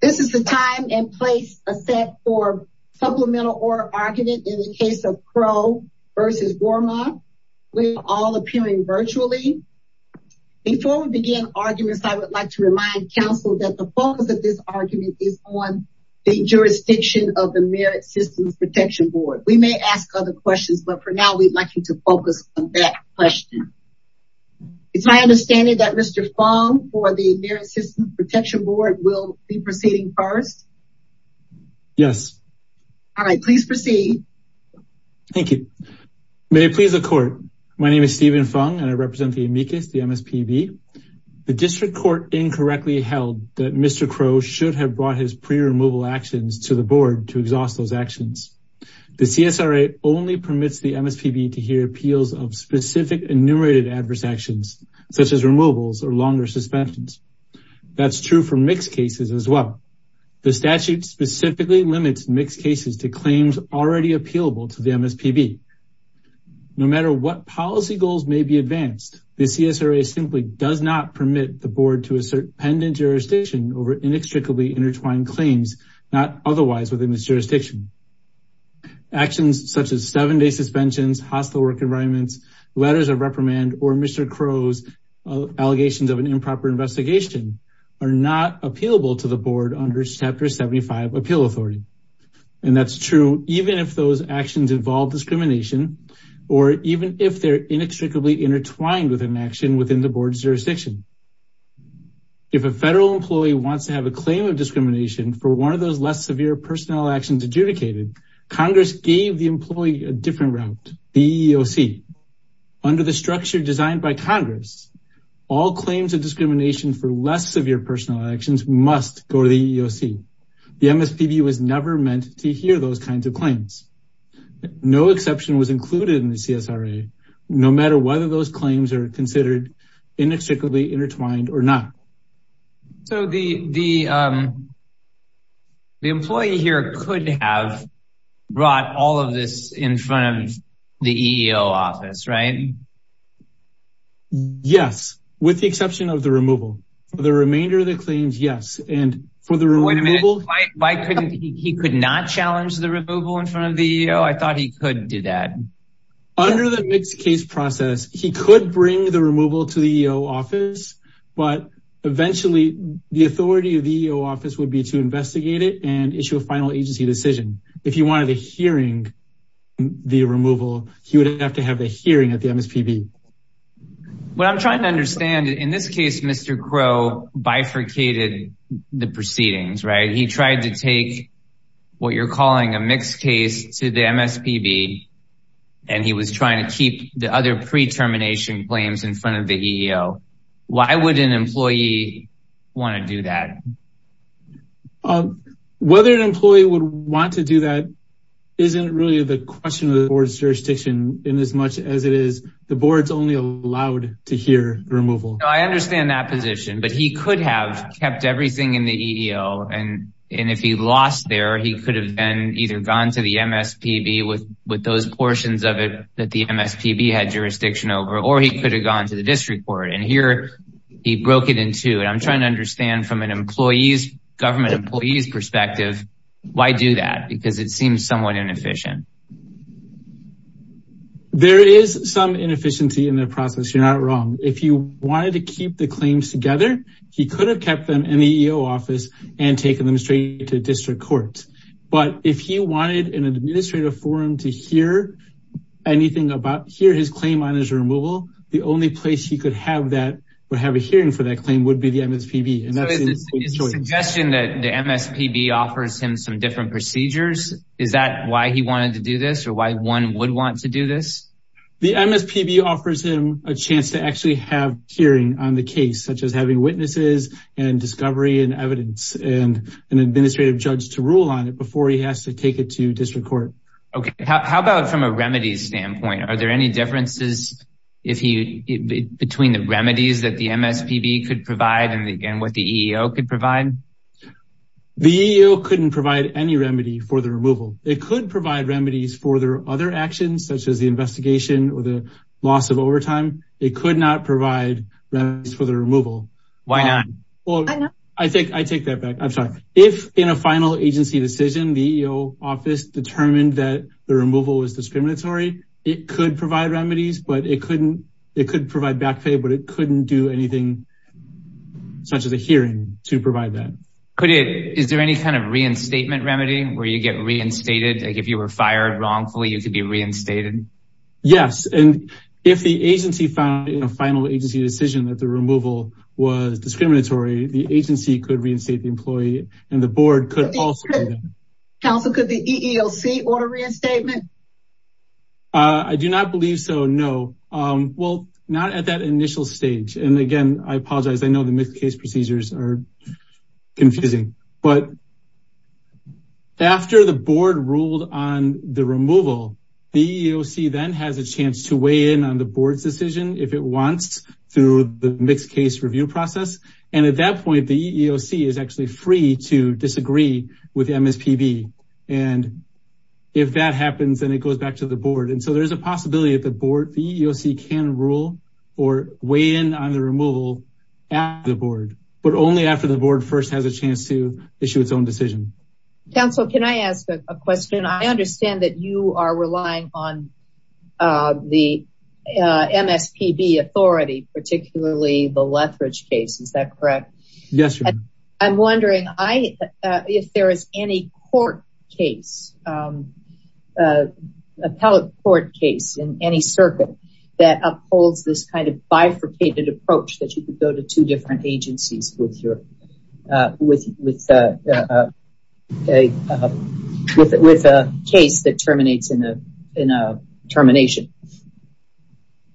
This is the time and place a set for supplemental order argument in the case of Crowe v. Wormuth. We are all appearing virtually. Before we begin arguments, I would like to remind council that the focus of this argument is on the jurisdiction of the Merit Systems Protection Board. We may ask other questions, but for now, we'd like you to focus on that question. It's my understanding that Mr. Fung for the Merit Systems Protection Board will be proceeding first? Yes. All right, please proceed. Thank you. May it please the court. My name is Stephen Fung and I represent the amicus, the MSPB. The district court incorrectly held that Mr. Crowe should have brought his pre-removal actions to the board to exhaust those actions. The CSRA only permits the MSPB to hear appeals of specific enumerated adverse actions, such as removals or longer suspensions. That's true for mixed cases as well. The statute specifically limits mixed cases to claims already appealable to the MSPB. No matter what policy goals may be advanced, the CSRA simply does not permit the board to assert over inextricably intertwined claims, not otherwise within the jurisdiction. Actions such as seven-day suspensions, hostile work environments, letters of reprimand, or Mr. Crowe's allegations of an improper investigation are not appealable to the board under Chapter 75 Appeal Authority. And that's true even if those actions involve discrimination or even if they're inextricably intertwined with an action within the board's jurisdiction. If a federal employee wants to have a claim of discrimination for one of those less severe personnel actions adjudicated, Congress gave the employee a different route, the EEOC. Under the structure designed by Congress, all claims of discrimination for less severe personnel actions must go to the EEOC. The MSPB was never meant to hear those kinds of claims. No exception was included in the CSRA, no matter whether those claims are considered inextricably intertwined or not. So the employee here could have brought all of this in front of the EEOC, right? Yes, with the exception of the removal. The remainder of the claims, yes. Wait a minute, he could not challenge the removal in front of the EEOC? I thought he could do that. Under the mixed case process, he could bring the removal to the EEOC, but eventually the authority of the EEOC would be to investigate it and issue a final agency decision. If he wanted a hearing on the removal, he would have to have a hearing at the MSPB. What I'm trying to understand, in this case, Mr. Crow bifurcated the proceedings, right? He tried to take what you're calling a mixed case to the MSPB, and he was trying to keep the other pre-termination claims in front of the EEO. Why would an employee want to do that? Whether an employee would want to do that isn't really the question of the board's jurisdiction in as much as it is the board's only allowed to hear the removal. I understand that position, but he could have kept everything in the EEO. And if he lost there, he could have either gone to the MSPB with those portions of it that the MSPB had jurisdiction over, or he could have gone to the district court. And here, he broke it in two. And I'm trying to understand from an employee's, government employee's perspective, why do that? Because it seems somewhat inefficient. There is some inefficiency in the process. You're not wrong. If he wanted to keep the claims together, he could have kept them in the EEO office and taken them straight to district court. But if he wanted an administrative forum to hear anything about, hear his claim on his removal, the only place he could have that or have a hearing for that claim would be the MSPB. So is the suggestion that the MSPB offers him some different procedures, is that why he wanted to do this or why one would want to do this? The MSPB offers him a chance to actually have hearing on the case, such as having witnesses and discovery and evidence and an administrative judge to rule on it before he has to take it to district court. Okay. How about from a remedies standpoint? Are there any differences between the remedies that the MSPB could provide and what the EEO could provide? The EEO couldn't provide any remedy for the removal. It could provide remedies for their other actions, such as the investigation or the loss of overtime. It could not provide remedies for the removal. Why not? Well, I think I take that back. I'm sorry. If in a final agency decision, the EEO office determined that the removal was discriminatory, it could provide remedies, but it couldn't. It could provide back pay, but it couldn't do anything such as a hearing to provide that. Is there any kind of reinstatement remedy where you get reinstated? If you were fired wrongfully, you could be reinstated? Yes. And if the agency found in a final agency decision that the removal was discriminatory, the agency could reinstate the employee and the board could also. Counsel, could the EEOC order reinstatement? I do not believe so. No. Well, not at that initial stage. And again, I apologize. I know the mixed case procedures are confusing. But after the board ruled on the removal, the EEOC then has a chance to weigh in on the board's decision if it wants through the mixed case review process. And at that point, the EEOC is actually free to disagree with MSPB. And if that happens, then it goes back to the board. And so there is a possibility that the board, the EEOC can rule or weigh in on the removal after the board, but only after the board first has a chance to issue its own decision. Counsel, can I ask a question? I understand that you are relying on the MSPB authority, particularly the Lethbridge case. Is that correct? Yes. I'm wondering if there is any court case, appellate court case in any circuit that upholds this kind of bifurcated approach that you could go to two different agencies with a case that terminates in a termination.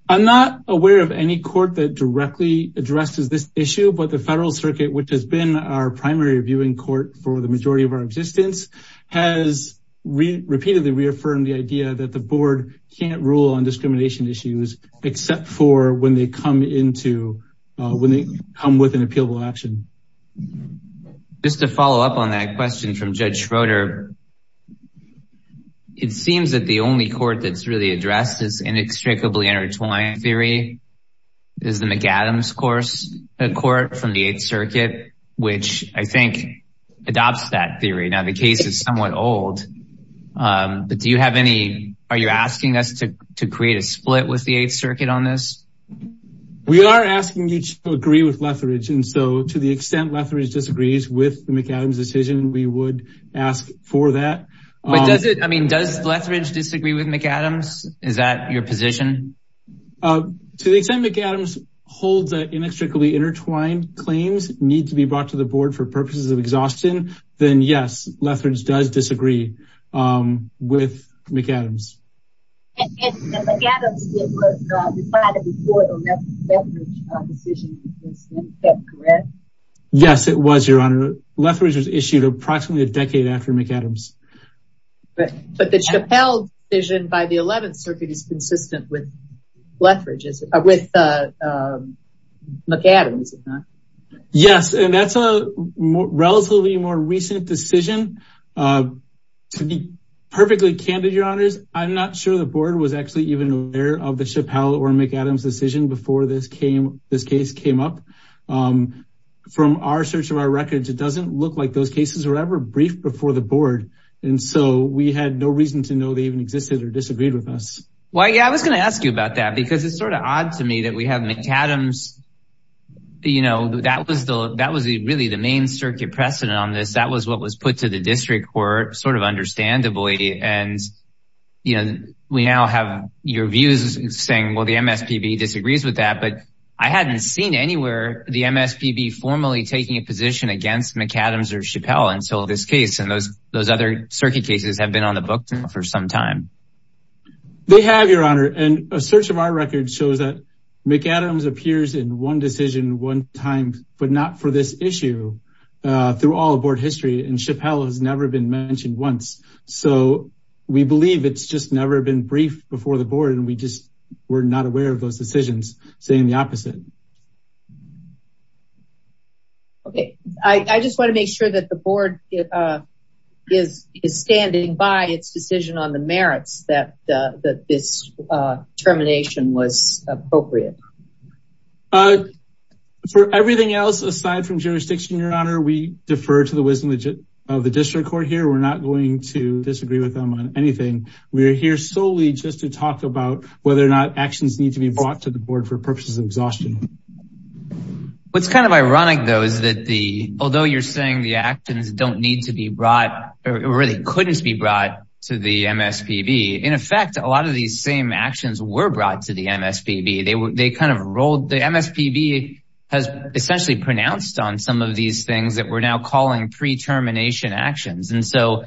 I'm not aware of any court that directly addresses this issue. But the federal circuit, which has been our primary reviewing court for the majority of our existence, has repeatedly reaffirmed the idea that the board can't rule on discrimination issues, except for when they come with an appealable action. Just to follow up on that question from Judge Schroeder, it seems that the only court that's really addressed this inextricably intertwined theory is the McAdams court from the Eighth Circuit, which I think adopts that theory. Now, the case is somewhat old, but do you have any, are you asking us to create a split with the Eighth Circuit on this? We are asking you to agree with Lethbridge. And so to the extent Lethbridge disagrees with the McAdams decision, we would ask for that. But does it, I mean, does Lethbridge disagree with McAdams? Is that your position? To the extent McAdams holds that inextricably intertwined claims need to be brought to the board for purposes of exhaustion, then yes, Lethbridge does disagree with McAdams. And McAdams was decided before the Lethbridge decision, is that correct? Yes, it was, Your Honor. Lethbridge was issued approximately a decade after McAdams. But the Chappelle decision by the Eleventh Circuit is consistent with McAdams, is it not? Yes, and that's a relatively more recent decision. To be perfectly candid, Your Honors, I'm not sure the board was actually even aware of the Chappelle or McAdams decision before this case came up. From our search of our records, it doesn't look like those cases were ever briefed before the board. And so we had no reason to know they even existed or disagreed with us. Well, yeah, I was going to ask you about that because it's sort of odd to me that we have McAdams. You know, that was the that was really the main circuit precedent on this. That was what was put to the district court sort of understandably. And, you know, we now have your views saying, well, the MSPB disagrees with that. But I hadn't seen anywhere the MSPB formally taking a position against McAdams or Chappelle until this case. And those those other circuit cases have been on the books for some time. They have, Your Honor, and a search of our records shows that McAdams appears in one decision one time, but not for this issue through all of board history and Chappelle has never been mentioned once. So we believe it's just never been briefed before the board. And we just were not aware of those decisions saying the opposite. OK, I just want to make sure that the board is standing by its decision on the merits that this termination was appropriate. For everything else aside from jurisdiction, Your Honor, we defer to the wisdom of the district court here. We're not going to disagree with them on anything. We're here solely just to talk about whether or not actions need to be brought to the board for purposes of exhaustion. What's kind of ironic, though, is that the although you're saying the actions don't need to be brought, it really couldn't be brought to the MSPB. In effect, a lot of these same actions were brought to the MSPB. They kind of rolled the MSPB has essentially pronounced on some of these things that we're now calling pre termination actions. And so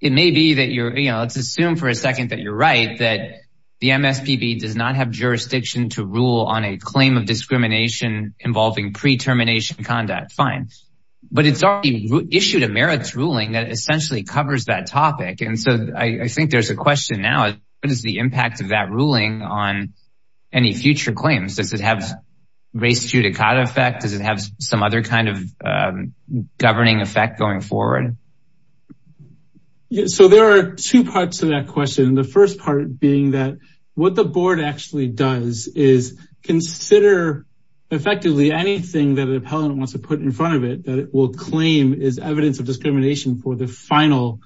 it may be that you're, you know, let's assume for a second that you're right, that the MSPB does not have jurisdiction to rule on a claim of discrimination involving pre termination conduct. Fine. But it's already issued a merits ruling that essentially covers that topic. And so I think there's a question now. What is the impact of that ruling on any future claims? Does it have race judicata effect? Does it have some other kind of governing effect going forward? So there are two parts to that question. The first part being that what the board actually does is consider effectively anything that an appellant wants to put in front of it, that it will claim is evidence of discrimination for the final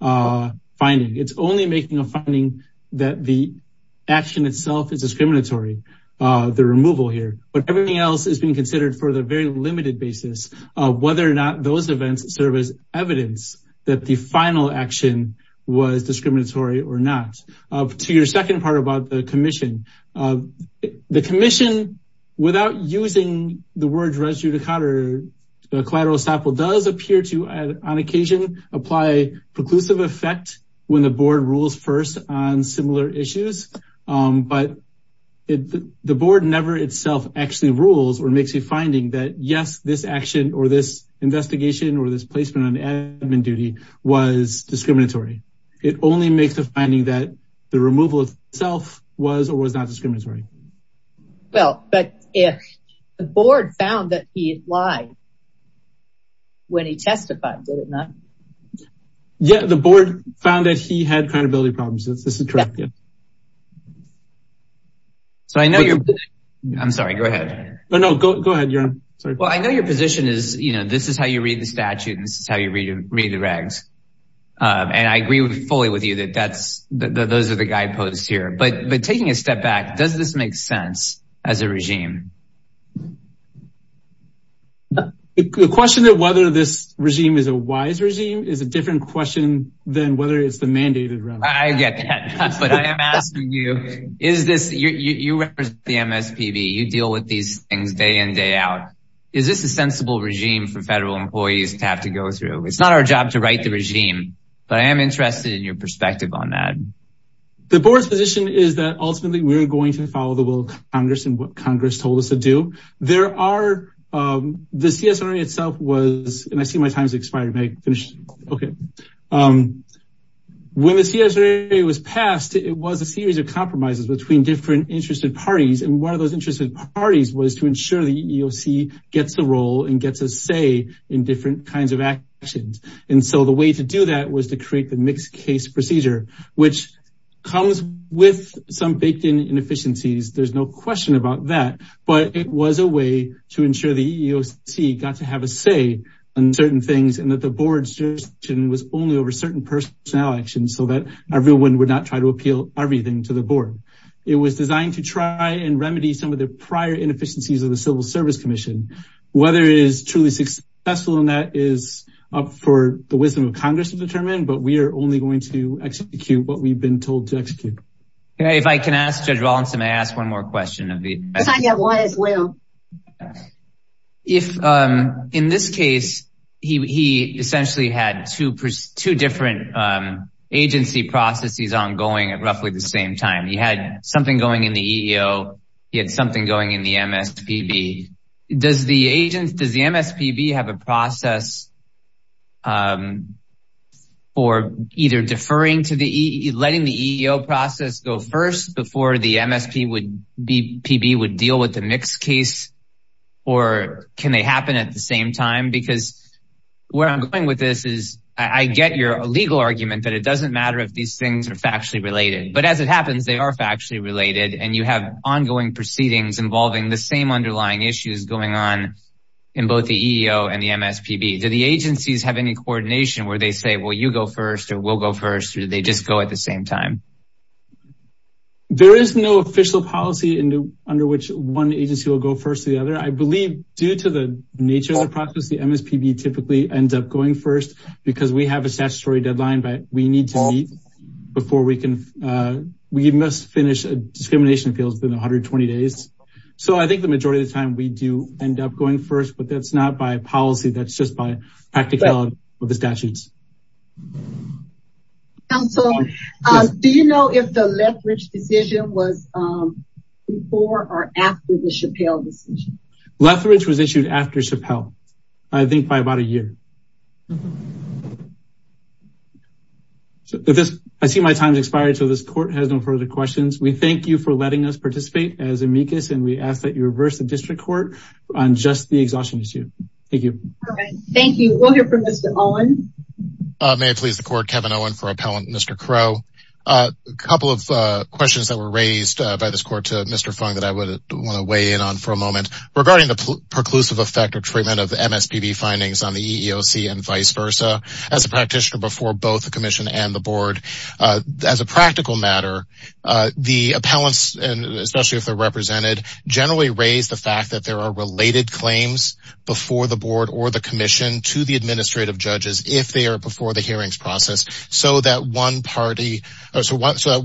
finding. It's only making a finding that the action itself is discriminatory. The removal here, but everything else is being considered for the very limited basis of whether or not those events serve as evidence that the final action was discriminatory or not. To your second part about the commission, the commission, without using the word race judicata collateral sample does appear to, on occasion, apply preclusive effect when the board rules first on similar issues. But the board never itself actually rules or makes a finding that, yes, this action or this investigation or this placement on admin duty was discriminatory. It only makes a finding that the removal itself was or was not discriminatory. Well, but if the board found that he lied when he testified, did it not? Yeah, the board found that he had credibility problems. This is correct. So I know you're I'm sorry. Go ahead. Go ahead. Well, I know your position is, you know, this is how you read the statute. This is how you read the regs. And I agree fully with you that that's that those are the guideposts here. But but taking a step back, does this make sense as a regime? The question of whether this regime is a wise regime is a different question than whether it's the mandated. I get that. But I am asking you, is this you represent the MSPB? You deal with these things day in, day out. Is this a sensible regime for federal employees to have to go through? It's not our job to write the regime, but I am interested in your perspective on that. The board's position is that ultimately we're going to follow the will of Congress and what Congress told us. To do there are the CSRA itself was and I see my time's expired. OK. When the CSRA was passed, it was a series of compromises between different interested parties. And one of those interested parties was to ensure the EOC gets a role and gets a say in different kinds of actions. And so the way to do that was to create the mixed case procedure, which comes with some baked in inefficiencies. There's no question about that. But it was a way to ensure the EOC got to have a say in certain things. And that the board's jurisdiction was only over certain personnel actions so that everyone would not try to appeal everything to the board. It was designed to try and remedy some of the prior inefficiencies of the Civil Service Commission. Whether it is truly successful in that is up for the wisdom of Congress to determine. But we are only going to execute what we've been told to execute. If I can ask Judge Rawlinson, may I ask one more question? If I get one as well. If in this case, he essentially had two different agency processes ongoing at roughly the same time. He had something going in the EEO. He had something going in the MSPB. Does the MSPB have a process for either deferring to the EEO, letting the EEO process go first before the MSPB would deal with the mixed case? Or can they happen at the same time? Because where I'm going with this is I get your legal argument that it doesn't matter if these things are factually related. But as it happens, they are factually related. And you have ongoing proceedings involving the same underlying issues going on in both the EEO and the MSPB. Do the agencies have any coordination where they say, well, you go first or we'll go first? Or do they just go at the same time? There is no official policy under which one agency will go first or the other. I believe due to the nature of the process, the MSPB typically ends up going first because we have a statutory deadline that we need to meet before we can. We must finish a discrimination appeal within 120 days. So I think the majority of the time we do end up going first. But that's not by policy. That's just by practicality with the statutes. Counsel, do you know if the Lethbridge decision was before or after the Chappelle decision? Lethbridge was issued after Chappelle, I think by about a year. I see my time has expired, so this court has no further questions. We thank you for letting us participate as amicus. And we ask that you reverse the district court on just the exhaustion issue. Thank you. Thank you. We'll hear from Mr. Owen. May it please the court, Kevin Owen for appellant Mr. Crow. A couple of questions that were raised by this court to Mr. Fung that I would want to weigh in on for a moment. Regarding the preclusive effect or treatment of MSPB findings on the EEOC and vice versa, as a practitioner before both the commission and the board, as a practical matter, the appellants, especially if they're represented, generally raise the fact that there are related claims before the board or the commission to the administrative judges, if they are before the hearings process, so that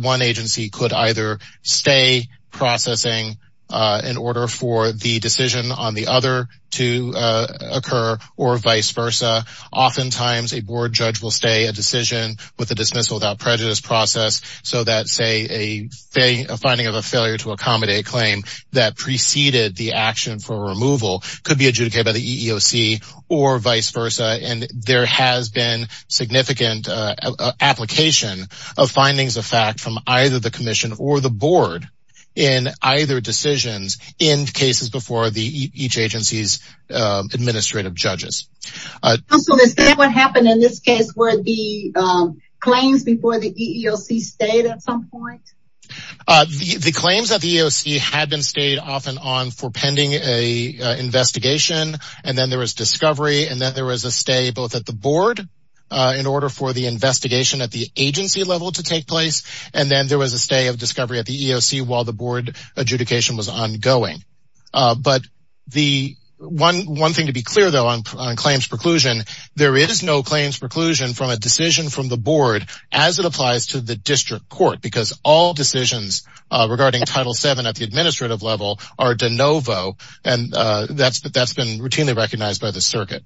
one agency could either stay processing in order for the decision on the other to occur or vice versa. Oftentimes, a board judge will stay a decision with a dismissal without prejudice process, so that, say, a finding of a failure to accommodate claim that preceded the action for removal could be adjudicated by the EEOC or vice versa. And there has been significant application of findings of fact from either the commission or the board in either decisions in cases before each agency's administrative judges. So is that what happened in this case, where the claims before the EEOC stayed at some point? The claims at the EEOC had been stayed off and on for pending an investigation, and then there was discovery, and then there was a stay both at the board in order for the investigation at the agency level to take place, and then there was a stay of discovery at the EEOC while the board adjudication was ongoing. But one thing to be clear, though, on claims preclusion, there is no claims preclusion from a decision from the board as it applies to the district court, because all decisions regarding Title VII at the administrative level are de novo, and that's been routinely recognized by the circuit.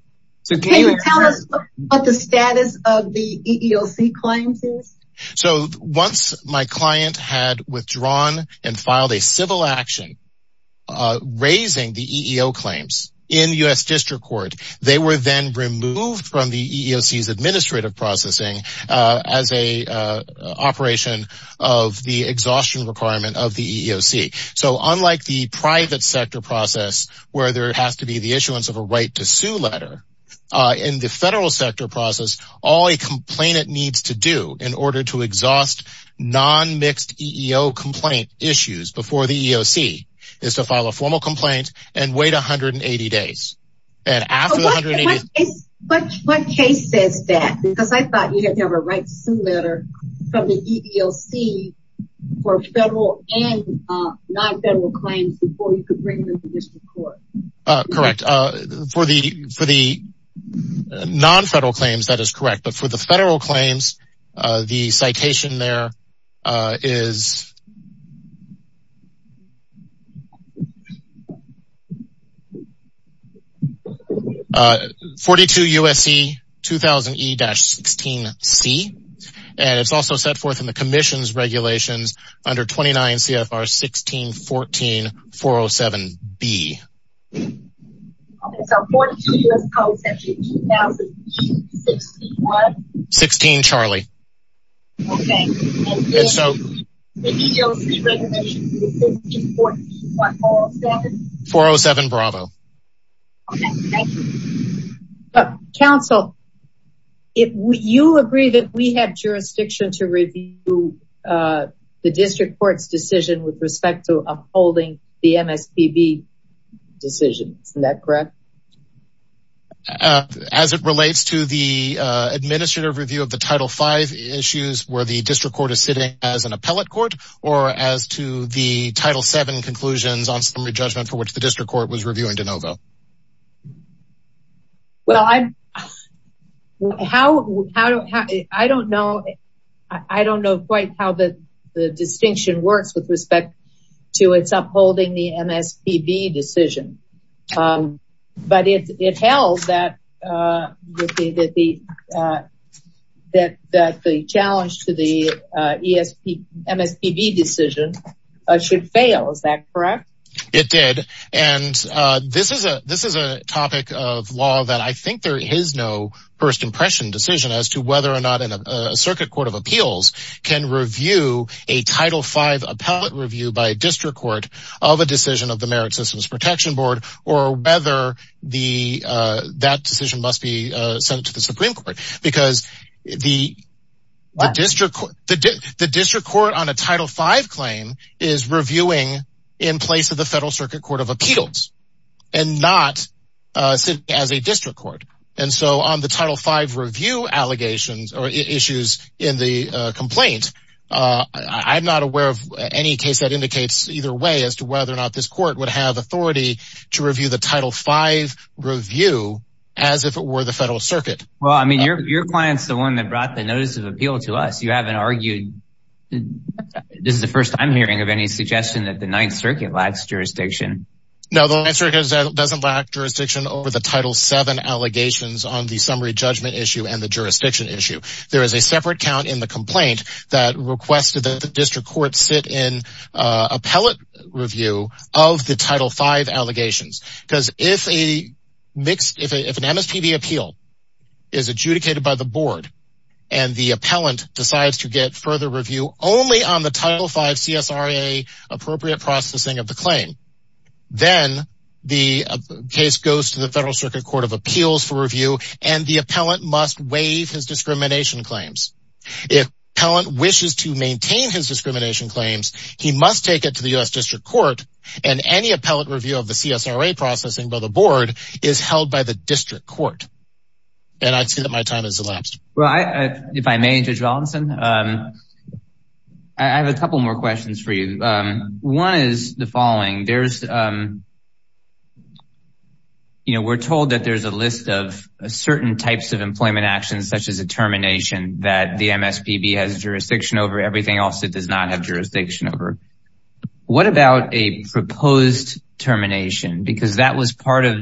Can you tell us what the status of the EEOC claims is? So once my client had withdrawn and filed a civil action raising the EEO claims in the U.S. district court, they were then removed from the EEOC's administrative processing as a operation of the exhaustion requirement of the EEOC. So unlike the private sector process where there has to be the issuance of a right to sue letter, in the federal sector process, all a complainant needs to do in order to exhaust non-mixed EEO complaint issues before the EEOC is to file a formal complaint and wait 180 days. What case says that? Because I thought you didn't have a right to sue letter from the EEOC for federal and non-federal claims before you could bring them to district court. Correct. For the non-federal claims, that is correct. But for the federal claims, the citation there is 42 U.S.C. 2000E-16C. And it's also set forth in the Commission's regulations under 29 CFR 1614-407B. Okay, so 42 U.S.C. 2000E-16C. 16, Charlie. Okay, and then the EEOC regulations 1614-407? 407, Bravo. Okay, thank you. Counsel, you agree that we have jurisdiction to review the district court's decision with respect to upholding the MSPB decision. Isn't that correct? As it relates to the administrative review of the Title V issues where the district court is sitting as an appellate court or as to the Title VII conclusions on summary judgment for which the district court was reviewing de novo? Well, I don't know quite how the distinction works with respect to its upholding the MSPB decision. But it held that the challenge to the MSPB decision should fail. Is that correct? It did. And this is a topic of law that I think there is no first impression decision as to whether or not a circuit court of appeals can review a Title V appellate review by a district court of a decision of the Merit Systems Protection Board or whether that decision must be sent to the Supreme Court. Because the district court on a Title V claim is reviewing in place of the Federal Circuit Court of Appeals and not as a district court. And so on the Title V review allegations or issues in the complaint, I'm not aware of any case that indicates either way as to whether or not this court would have authority to review the Title V review as if it were the Federal Circuit. Well, I mean, your client's the one that brought the notice of appeal to us. You haven't argued. This is the first I'm hearing of any suggestion that the Ninth Circuit lacks jurisdiction. No, the answer is that it doesn't lack jurisdiction over the Title VII allegations on the summary judgment issue and the jurisdiction issue. There is a separate count in the complaint that requested that the district court sit in appellate review of the Title V allegations. Because if an MSPB appeal is adjudicated by the board and the appellant decides to get further review only on the Title V CSRA appropriate processing of the claim, then the case goes to the Federal Circuit Court of Appeals for review and the appellant must waive his discrimination claims. If appellant wishes to maintain his discrimination claims, he must take it to the U.S. District Court and any appellant review of the CSRA processing by the board is held by the district court. And I'd say that my time has elapsed. Well, if I may, Judge Valenson, I have a couple more questions for you. One is the following. There's, you know, we're told that there's a list of certain types of employment actions, such as a termination that the MSPB has jurisdiction over everything else that does not have jurisdiction over. What about a proposed termination? Because that was part of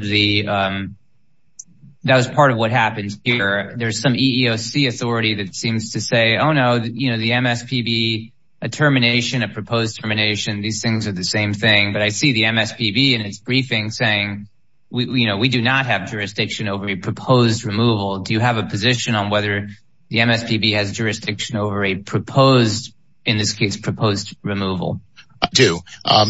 what happens here. There's some EEOC authority that seems to say, oh, no, you know, the MSPB, a termination, a proposed termination, these things are the same thing. But I see the MSPB in its briefing saying, you know, we do not have jurisdiction over a proposed removal. Do you have a position on whether the MSPB has jurisdiction over a proposed, in this case, proposed removal? I do.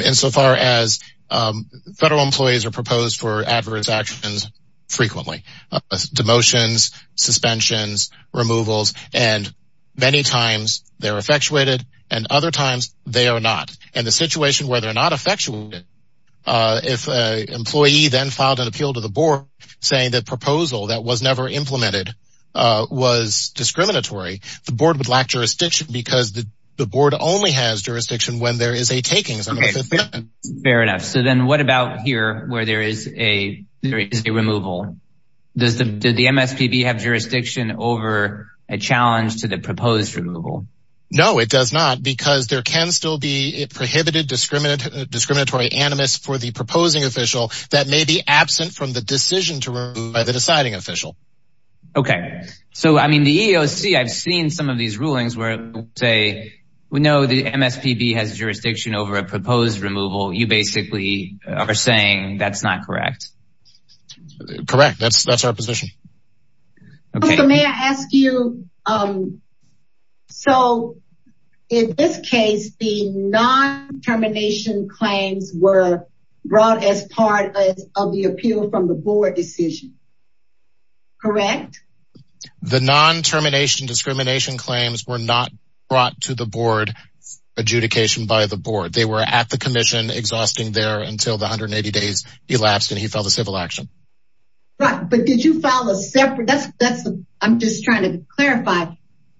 Insofar as federal employees are proposed for adverse actions frequently, demotions, suspensions, removals, and many times they're effectuated and other times they are not. And the situation where they're not effectuated, if an employee then filed an appeal to the board saying that proposal that was never implemented was discriminatory, the board would lack jurisdiction because the board only has jurisdiction when there is a taking. Fair enough. So then what about here where there is a removal? Does the MSPB have jurisdiction over a challenge to the proposed removal? No, it does not, because there can still be prohibited discriminatory animus for the proposing official that may be absent from the decision to remove by the deciding official. Okay. So, I mean, the EEOC, I've seen some of these rulings where they say, we know the MSPB has jurisdiction over a proposed removal. You basically are saying that's not correct. Correct. That's our position. May I ask you, so in this case, the non-termination claims were brought as part of the appeal from the board decision. Correct? The non-termination discrimination claims were not brought to the board adjudication by the board. They were at the commission exhausting there until the 180 days elapsed and he filed a civil action. But did you file a separate, I'm just trying to clarify,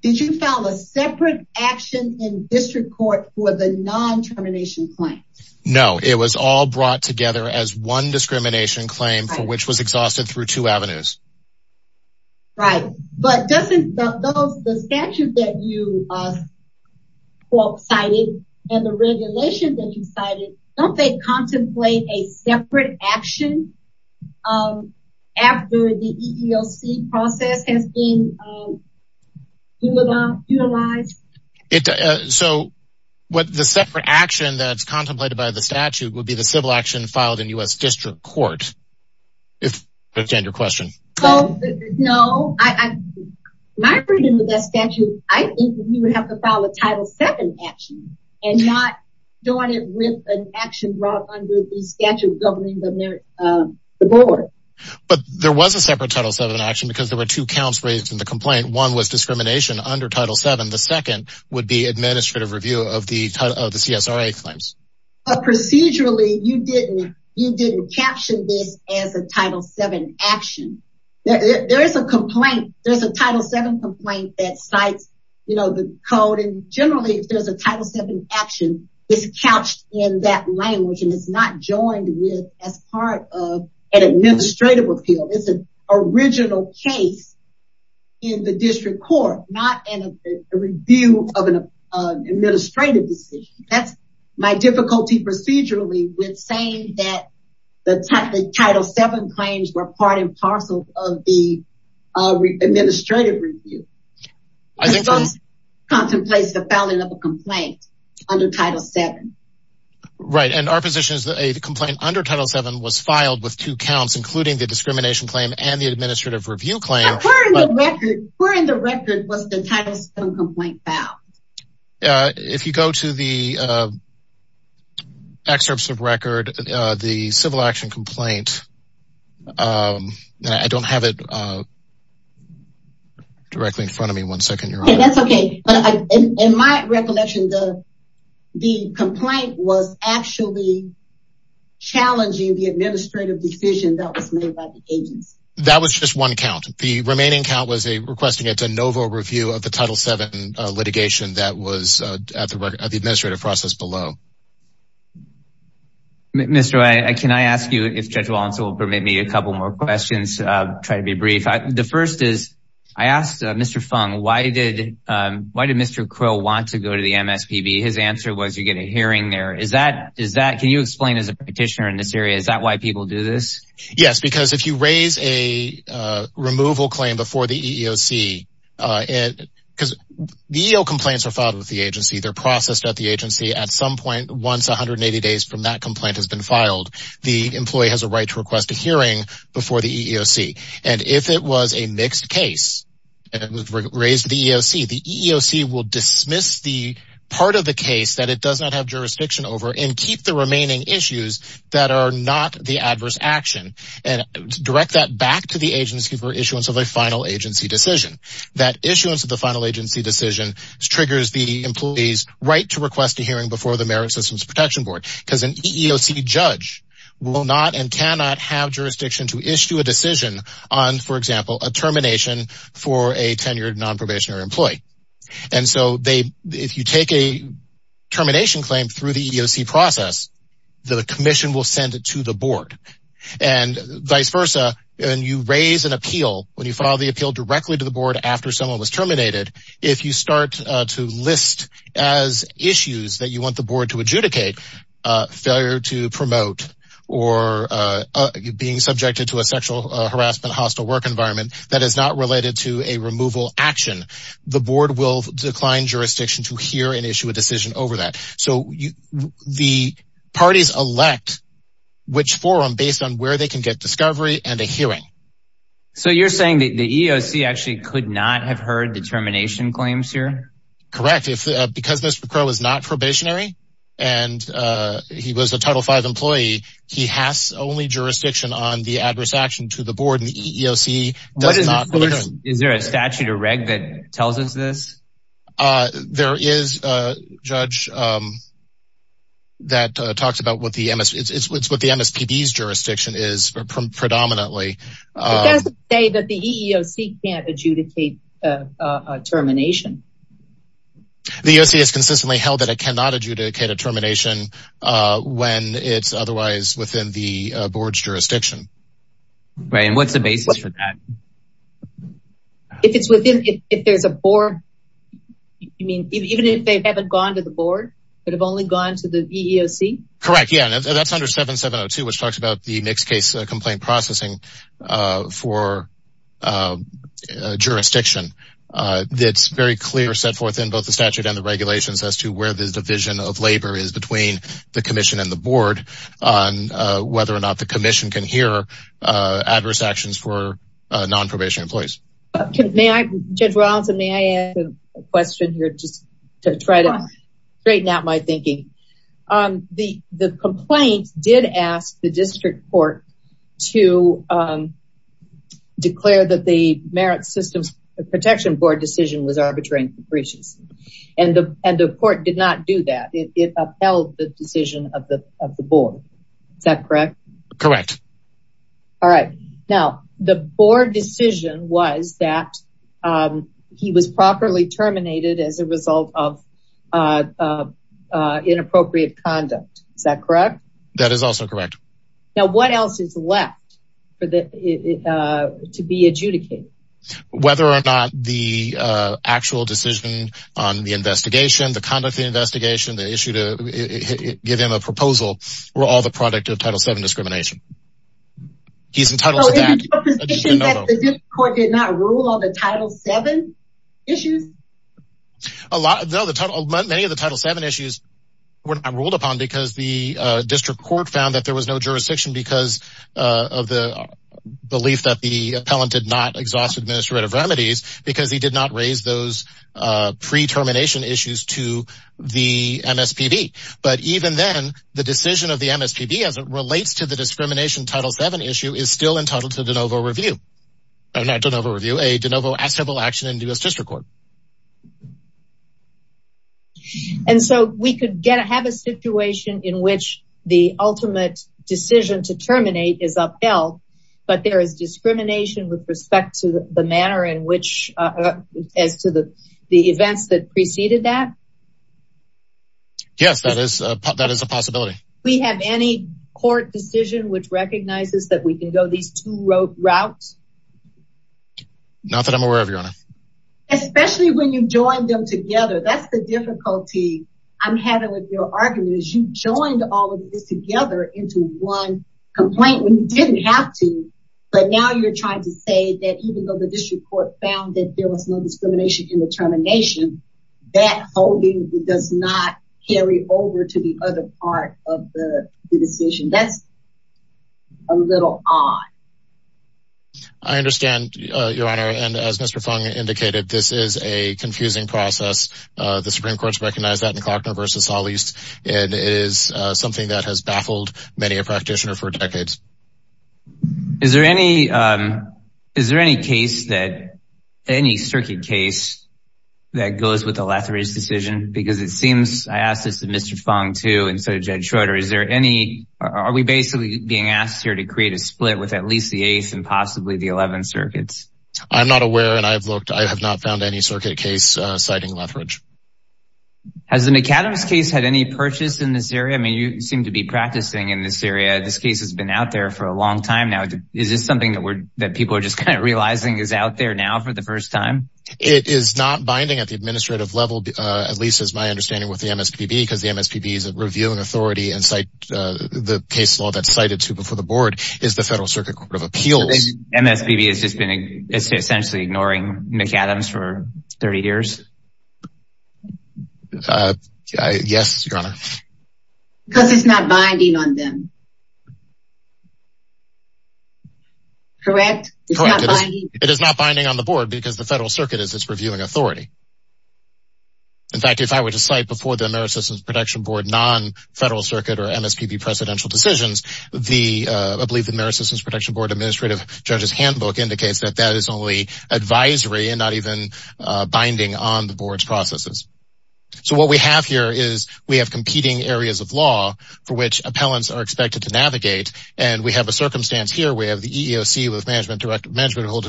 did you file a separate action in district court for the non-termination claims? No, it was all brought together as one discrimination claim for which was exhausted through two avenues. Right. But doesn't the statute that you cited and the regulation that you cited, don't they contemplate a separate action after the EEOC process has been utilized? So, the separate action that's contemplated by the statute would be the civil action filed in U.S. district court, if I understand your question. No, my reading of that statute, I think you would have to file a Title VII action and not doing it with an action brought under the statute governing the board. But there was a separate Title VII action because there were two counts raised in the complaint. One was discrimination under Title VII. The second would be administrative review of the CSRA claims. Procedurally, you didn't caption this as a Title VII action. There is a complaint, there's a Title VII complaint that cites the code and generally if there's a Title VII action, it's couched in that language and it's not joined with as part of an administrative appeal. It's an original case in the district court, not in a review of an administrative decision. That's my difficulty procedurally with saying that the Title VII claims were part and parcel of the administrative review. It contemplates the filing of a complaint under Title VII. Right, and our position is that a complaint under Title VII was filed with two counts, including the discrimination claim and the administrative review claim. Where in the record was the Title VII complaint filed? If you go to the excerpts of record, the civil action complaint, I don't have it directly in front of me one second. That's okay. In my recollection, the complaint was actually challenging the administrative decision that was made by the agency. That was just one count. The remaining count was requesting a de novo review of the Title VII litigation that was at the administrative process below. Mr. O'Reilly, can I ask you, if Judge Walensky will permit me, a couple more questions. I'll try to be brief. The first is, I asked Mr. Fung, why did Mr. Quill want to go to the MSPB? His answer was, you get a hearing there. Can you explain as a petitioner in this area, is that why people do this? Yes, because if you raise a removal claim before the EEOC, because the EEO complaints are filed with the agency, they're processed at the agency. At some point, once 180 days from that complaint has been filed, the employee has a right to request a hearing before the EEOC. If it was a mixed case and it was raised to the EEOC, the EEOC will dismiss the part of the case that it does not have jurisdiction over and keep the remaining issues that are not the adverse action and direct that back to the agency for issuance of a final agency decision. That issuance of the final agency decision triggers the employee's right to request a hearing before the Merit Systems Protection Board, because an EEOC judge will not and cannot have jurisdiction to issue a decision on, for example, a termination for a tenured non-probationary employee. If you take a termination claim through the EEOC process, the commission will send it to the board and vice versa. When you raise an appeal, when you file the appeal directly to the board after someone was terminated, if you start to list as issues that you want the board to adjudicate, failure to promote or being subjected to a sexual harassment hostile work environment that is not related to a removal action, the board will decline jurisdiction to hear and issue a decision over that. So the parties elect which forum based on where they can get discovery and a hearing. So you're saying that the EEOC actually could not have heard the termination claims here? Correct. Because Mr. Crow is not probationary and he was a Title V employee, he has only jurisdiction on the adverse action to the board and the EEOC does not. Is there a statute or reg that tells us this? There is a judge that talks about what the MSPB's jurisdiction is predominantly. It doesn't say that the EEOC can't adjudicate a termination. The EEOC has consistently held that it cannot adjudicate a termination when it's otherwise within the board's jurisdiction. Right, and what's the basis for that? If it's within, if there's a board, you mean even if they haven't gone to the board but have only gone to the EEOC? Correct, yeah, that's under 7702 which talks about the mixed case complaint processing for jurisdiction. It's very clear set forth in both the statute and the regulations as to where the division of labor is between the commission and the board on whether or not the commission can hear adverse actions for non-probation employees. Judge Rawlinson, may I ask a question here just to try to straighten out my thinking? The complaint did ask the district court to declare that the Merit Systems Protection Board decision was arbitrary and capricious. And the court did not do that. It upheld the decision of the board. Is that correct? Correct. Alright, now the board decision was that he was properly terminated as a result of inappropriate conduct. Is that correct? That is also correct. Now what else is left to be adjudicated? Whether or not the actual decision on the investigation, the conduct of the investigation, the issue to give him a proposal were all the product of Title VII discrimination. He's entitled to that. So is it your position that the district court did not rule on the Title VII issues? Many of the Title VII issues were not ruled upon because the district court found that there was no jurisdiction because of the belief that the appellant did not exhaust administrative remedies because he did not raise those pre-termination issues to the MSPB. But even then, the decision of the MSPB as it relates to the discrimination Title VII issue is still entitled to a de novo action in the U.S. District Court. And so we could have a situation in which the ultimate decision to terminate is upheld, but there is discrimination with respect to the manner in which, as to the events that preceded that? Yes, that is a possibility. We have any court decision which recognizes that we can go these two routes? Not that I'm aware of, Your Honor. Especially when you joined them together. That's the difficulty I'm having with your argument is you joined all of this together into one complaint when you didn't have to. But now you're trying to say that even though the district court found that there was no discrimination in the termination, that holding does not carry over to the other part of the decision. That's a little odd. I understand, Your Honor. And as Mr. Fung indicated, this is a confusing process. The Supreme Court has recognized that in Klockner v. Solis. And it is something that has baffled many a practitioner for decades. Is there any circuit case that goes with the Lethbridge decision? Because it seems, I asked this to Mr. Fung too, and so did Judge Schroeder. Are we basically being asked here to create a split with at least the 8th and possibly the 11th circuits? I'm not aware, and I've looked. I have not found any circuit case citing Lethbridge. Has the McAdams case had any purchase in this area? I mean, you seem to be practicing in this area. This case has been out there for a long time now. Is this something that people are just kind of realizing is out there now for the first time? It is not binding at the administrative level, at least as my understanding with the MSPB, because the MSPB is a reviewing authority. And the case law that's cited to before the board is the Federal Circuit Court of Appeals. MSPB has just been essentially ignoring McAdams for 30 years? Yes, Your Honor. Because it's not binding on them. Correct? It is not binding on the board because the Federal Circuit is its reviewing authority. In fact, if I were to cite before the Ameri-Systems Protection Board non-Federal Circuit or MSPB presidential decisions, I believe the Ameri-Systems Protection Board administrative judge's handbook indicates that that is only advisory and not even binding on the board's processes. So what we have here is we have competing areas of law for which appellants are expected to navigate. And we have a circumstance here. We have the EEOC with management holding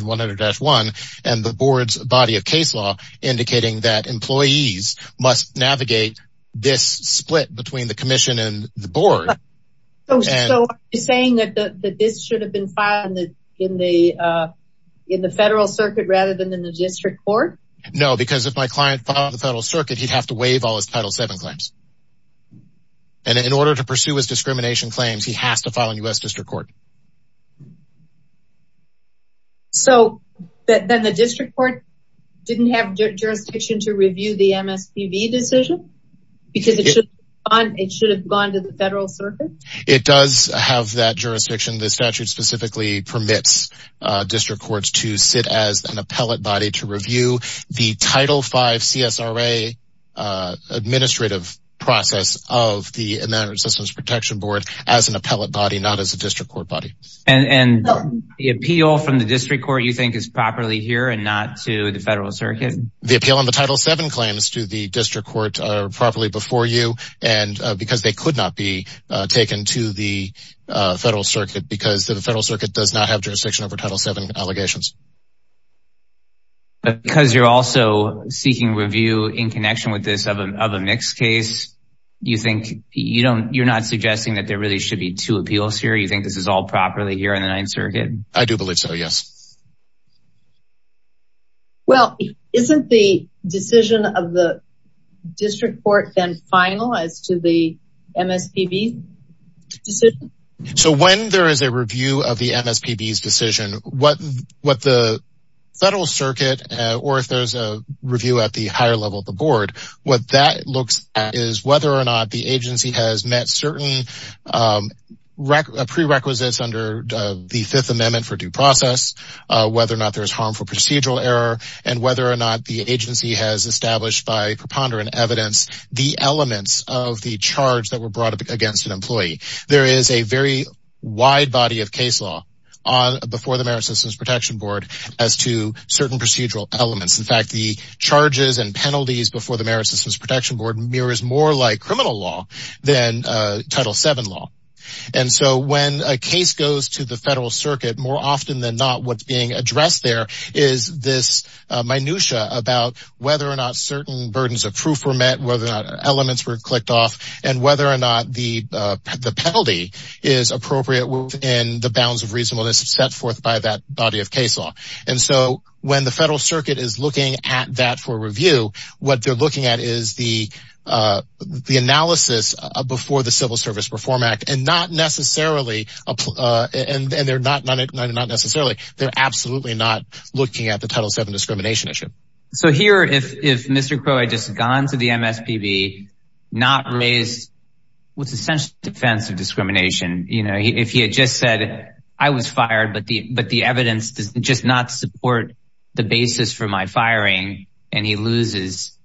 100-1 and the board's body of case law indicating that employees must navigate this split between the commission and the board. So are you saying that this should have been filed in the Federal Circuit rather than in the district court? No, because if my client filed in the Federal Circuit, he'd have to waive all his Title VII claims. And in order to pursue his discrimination claims, he has to file in U.S. District Court. So then the district court didn't have jurisdiction to review the MSPB decision? Because it should have gone to the Federal Circuit? It does have that jurisdiction. The statute specifically permits district courts to sit as an appellate body to review the Title V CSRA administrative process of the Ameri-Systems Protection Board as an appellate body, not as a district court body. And the appeal from the district court you think is properly here and not to the Federal Circuit? The appeal on the Title VII claims to the district court are properly before you because they could not be taken to the Federal Circuit because the Federal Circuit does not have jurisdiction over Title VII allegations. Because you're also seeking review in connection with this of a mixed case, you're not suggesting that there really should be two appeals here? You think this is all properly here in the Ninth Circuit? I do believe so, yes. Well, isn't the decision of the district court then final as to the MSPB decision? So when there is a review of the MSPB's decision, what the Federal Circuit, or if there's a review at the higher level of the board, what that looks at is whether or not the agency has met certain prerequisites under the Fifth Amendment for due process, whether or not there's harmful procedural error, and whether or not the agency has established by preponderant evidence the elements of the charge that were brought against an employee. There is a very wide body of case law before the Merit Systems Protection Board as to certain procedural elements. In fact, the charges and penalties before the Merit Systems Protection Board mirrors more like criminal law than Title VII law. And so when a case goes to the Federal Circuit, more often than not what's being addressed there is this minutia about whether or not certain burdens of proof were met, whether or not elements were clicked off, and whether or not the penalty is appropriate within the bounds of reasonableness set forth by that body of case law. And so when the Federal Circuit is looking at that for review, what they're looking at is the analysis before the Civil Service Reform Act, and not necessarily, and they're not necessarily, they're absolutely not looking at the Title VII discrimination issue. So here, if Mr. Crow had just gone to the MSPB, not raised what's essentially defense of discrimination, if he had just said, I was fired, but the evidence does just not support the basis for my firing, and he loses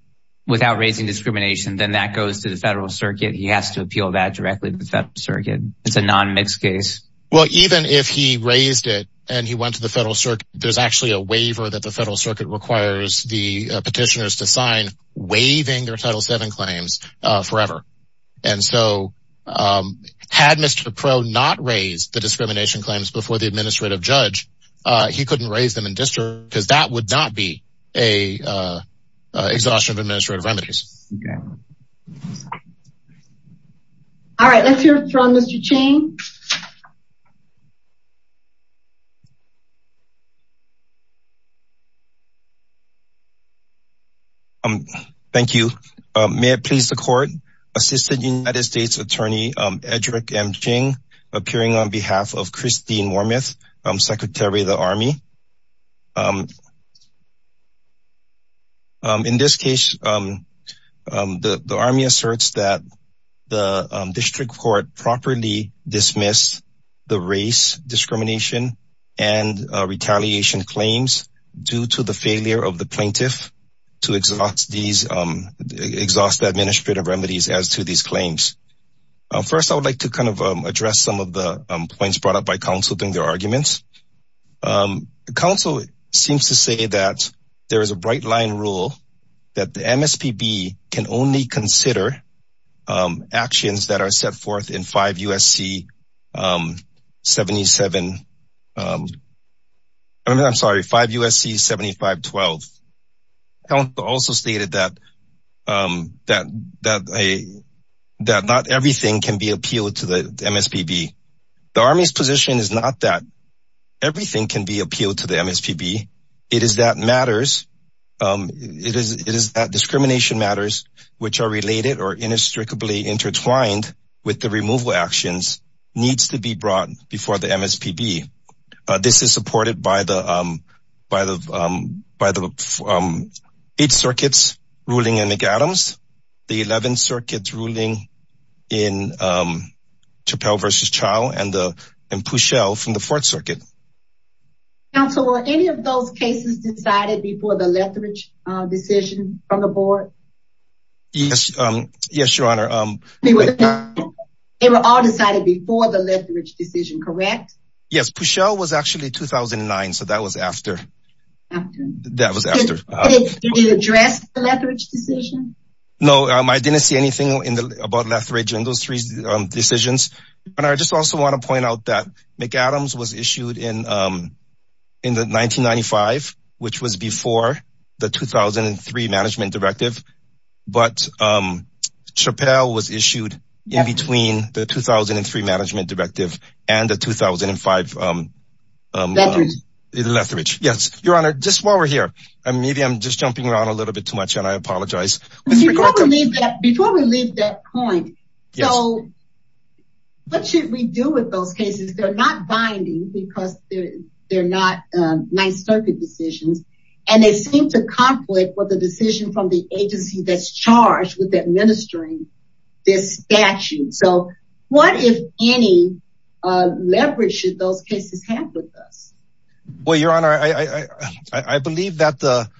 without raising discrimination, then that goes to the Federal Circuit. He has to appeal that directly to the Federal Circuit. It's a non-mixed case. Well, even if he raised it and he went to the Federal Circuit, there's actually a waiver that the Federal Circuit requires the petitioners to sign waiving their Title VII claims forever. And so had Mr. Crow not raised the discrimination claims before the administrative judge, he couldn't raise them in district because that would not be a exhaustion of administrative remedies. All right. Let's hear from Mr. Chang. Thank you. May it please the Court. Assistant United States Attorney Edrick M. Ching, appearing on behalf of Christine Wormuth, Secretary of the Army. In this case, the Army asserts that the district court properly dismissed the race discrimination and retaliation claims due to the failure of the plaintiff to exhaust the administrative remedies as to these claims. First, I would like to kind of address some of the points brought up by counsel during their arguments. Counsel seems to say that there is a bright line rule that the MSPB can only consider actions that are set forth in 5 U.S.C. 7512. Counsel also stated that not everything can be appealed to the MSPB. The Army's position is not that everything can be appealed to the MSPB. It is that matters, it is that discrimination matters which are related or inextricably intertwined with the removal actions needs to be brought before the MSPB. This is supported by the 8th Circuit's ruling in McAdams, the 11th Circuit's ruling in Chappell v. Chow, and Puchel from the 4th Circuit. Counsel, were any of those cases decided before the Lethbridge decision from the board? Yes, Your Honor. They were all decided before the Lethbridge decision, correct? Yes, Puchel was actually 2009, so that was after. Did you address the Lethbridge decision? No, I didn't see anything about Lethbridge in those three decisions. And I just also want to point out that McAdams was issued in 1995, which was before the 2003 Management Directive. But Chappell was issued in between the 2003 Management Directive and the 2005 Lethbridge. Your Honor, just while we're here, maybe I'm just jumping around a little bit too much and I apologize. Before we leave that point, so what should we do with those cases? They're not binding because they're not 9th Circuit decisions, and they seem to conflict with the decision from the agency that's charged with administering this statute. So what, if any, leverage should those cases have with us? Well, Your Honor, I believe that the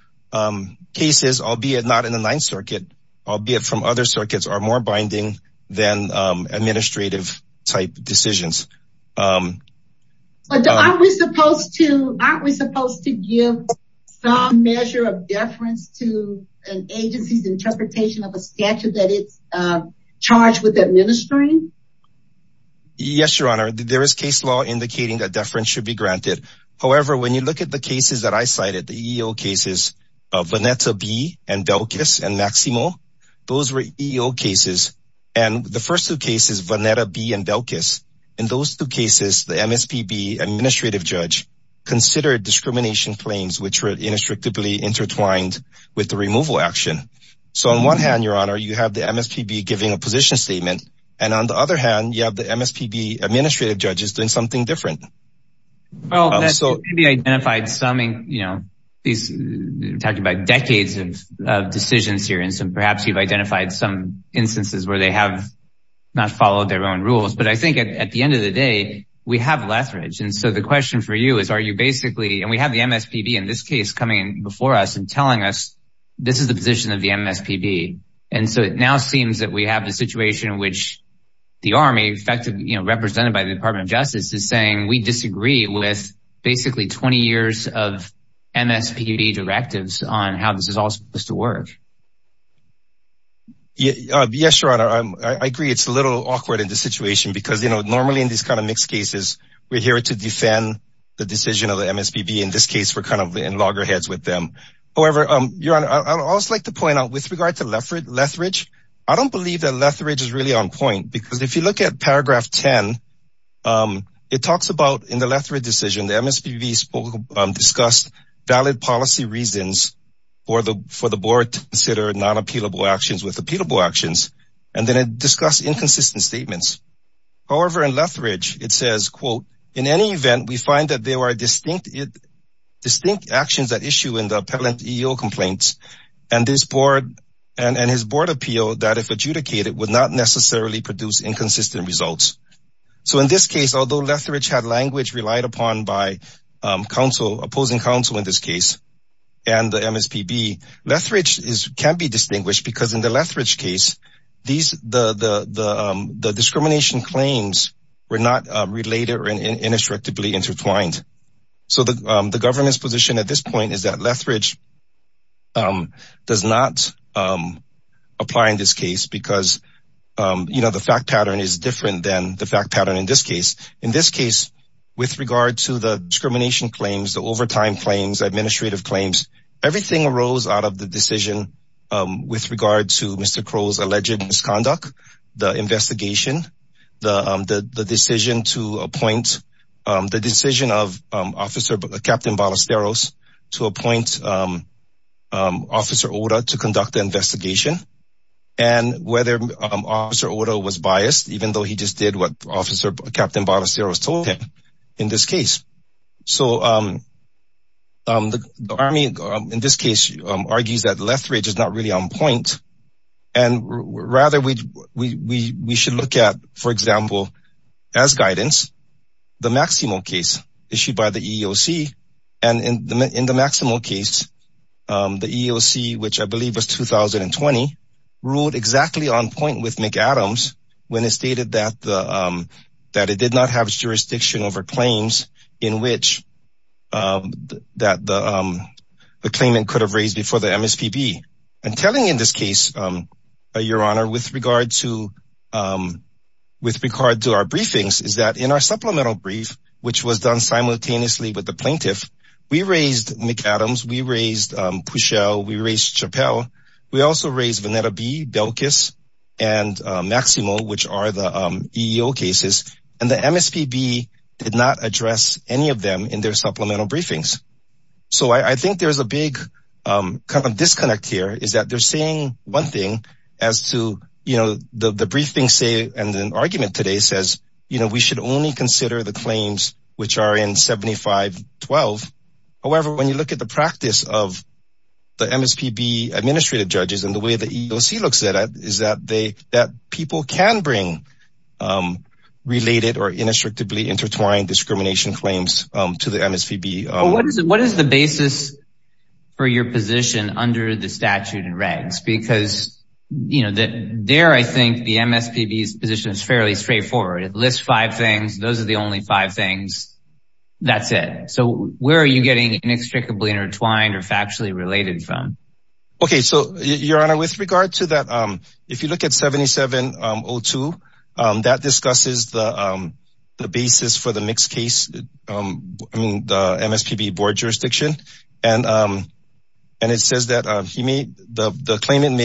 cases, albeit not in the 9th Circuit, albeit from other circuits, are more binding than administrative type decisions. Aren't we supposed to give some measure of deference to an agency's interpretation of a statute that it's charged with administering? Yes, Your Honor, there is case law indicating that deference should be granted. However, when you look at the cases that I cited, the EEO cases of Vanetta B. and Belkis and Maximo, those were EEO cases. And the first two cases, Vanetta B. and Belkis, in those two cases, the MSPB administrative judge considered discrimination claims, which were inextricably intertwined with the removal action. So on one hand, Your Honor, you have the MSPB giving a position statement, and on the other hand, you have the MSPB administrative judges doing something different. Well, the MSPB identified some, you know, we're talking about decades of decisions here. And so perhaps you've identified some instances where they have not followed their own rules. But I think at the end of the day, we have leverage. And so the question for you is, are you basically, and we have the MSPB in this case coming before us and telling us this is the position of the MSPB. And so it now seems that we have the situation in which the Army, effectively represented by the Department of Justice, is saying we disagree with basically 20 years of MSPB directives on how this is all supposed to work. Yes, Your Honor, I agree it's a little awkward in this situation because, you know, normally in these kind of mixed cases, we're here to defend the decision of the MSPB. In this case, we're kind of in loggerheads with them. However, Your Honor, I'd also like to point out with regard to lethargy, I don't believe that lethargy is really on point. Because if you look at paragraph 10, it talks about in the lethargy decision, the MSPB discussed valid policy reasons for the board to consider non-appealable actions with appealable actions. And then it discussed inconsistent statements. However, in lethargy, it says, quote, in any event, we find that there were distinct actions at issue in the appellant EO complaints and his board appeal that if adjudicated would not necessarily produce inconsistent results. So in this case, although lethargy had language relied upon by opposing counsel in this case and the MSPB, lethargy can be distinguished because in the lethargy case, the discrimination claims were not related or inextricably intertwined. So the government's position at this point is that lethargy does not apply in this case because, you know, the fact pattern is different than the fact pattern in this case. In this case, with regard to the discrimination claims, the overtime claims, administrative claims, everything arose out of the decision with regard to Mr. Crow's alleged misconduct, the investigation, the decision to appoint the decision of Officer Captain Ballesteros to appoint Officer Oda to conduct the investigation. And whether Officer Oda was biased, even though he just did what Officer Captain Ballesteros told him in this case. So the Army, in this case, argues that lethargy is not really on point and rather we should look at, for example, as guidance, the Maximo case issued by the EEOC. And in the Maximo case, the EEOC, which I believe was 2020, ruled exactly on point with McAdams when it stated that it did not have jurisdiction over claims that the claimant could have raised before the MSPB. And telling in this case, Your Honor, with regard to our briefings, is that in our supplemental brief, which was done simultaneously with the plaintiff, we raised McAdams, we raised Pushel, we raised Chappell. We also raised Veneta B, Belkis, and Maximo, which are the EEO cases. And the MSPB did not address any of them in their supplemental briefings. So I think there's a big disconnect here, is that they're saying one thing as to, you know, the briefings say, and an argument today says, you know, we should only consider the claims which are in 7512. However, when you look at the practice of the MSPB administrative judges and the way the EEOC looks at it, is that people can bring related or inextricably intertwined discrimination claims to the MSPB. What is the basis for your position under the statute and regs? Because, you know, there I think the MSPB's position is fairly straightforward. It lists five things. Those are the only five things. That's it. So where are you getting inextricably intertwined or factually related from? Okay, so, Your Honor, with regard to that, if you look at 7702, that discusses the basis for the mixed case, I mean, the MSPB board jurisdiction. And it says that he made the claimant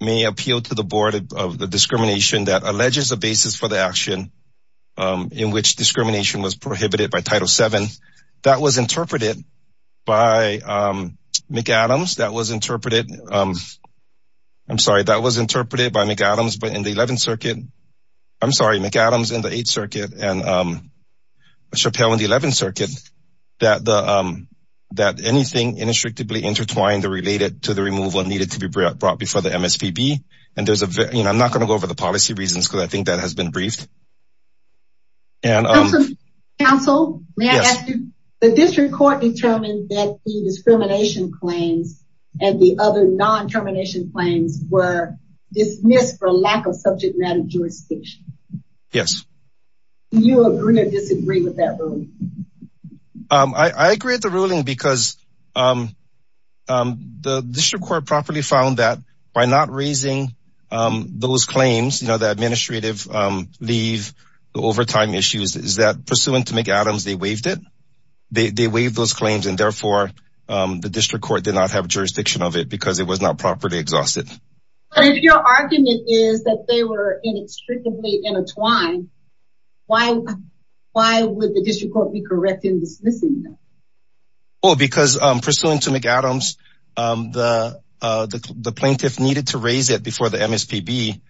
may appeal to the board of the discrimination that alleges a basis for the action in which discrimination was prohibited by Title VII. And that was interpreted by McAdams. That was interpreted. I'm sorry, that was interpreted by McAdams, but in the 11th Circuit. I'm sorry, McAdams in the 8th Circuit and Chappelle in the 11th Circuit, that anything inextricably intertwined or related to the removal needed to be brought before the MSPB. And there's a, you know, I'm not going to go over the policy reasons because I think that has been briefed. Counsel, may I ask you, the district court determined that the discrimination claims and the other non-termination claims were dismissed for lack of subject matter jurisdiction. Yes. Do you agree or disagree with that ruling? I agree with the ruling because the district court properly found that by not raising those claims, you know, the administrative leave, the overtime issues is that pursuant to McAdams, they waived it. They waived those claims and therefore the district court did not have jurisdiction of it because it was not properly exhausted. But if your argument is that they were inextricably intertwined, why would the district court be correct in dismissing them? Well, because pursuant to McAdams, the plaintiff needed to raise it before the MSPB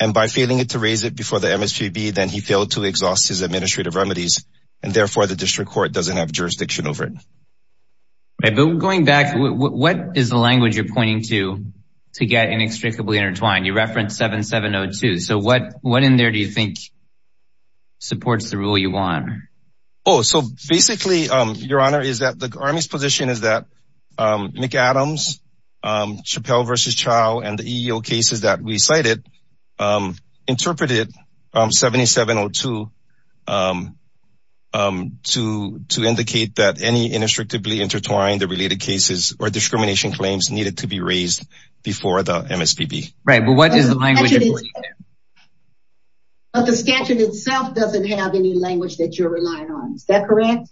and by failing to raise it before the MSPB, then he failed to exhaust his administrative remedies and therefore the district court doesn't have jurisdiction over it. Going back, what is the language you're pointing to to get inextricably intertwined? You referenced 7702. So what in there do you think supports the rule you want? Oh, so basically, Your Honor, is that the Army's position is that McAdams, Chappelle v. Chau, and the EEO cases that we cited interpreted 7702 to indicate that any inextricably intertwined or related cases or discrimination claims needed to be raised before the MSPB. Right, but what is the language? But the statute itself doesn't have any language that you're relying on. Is that correct?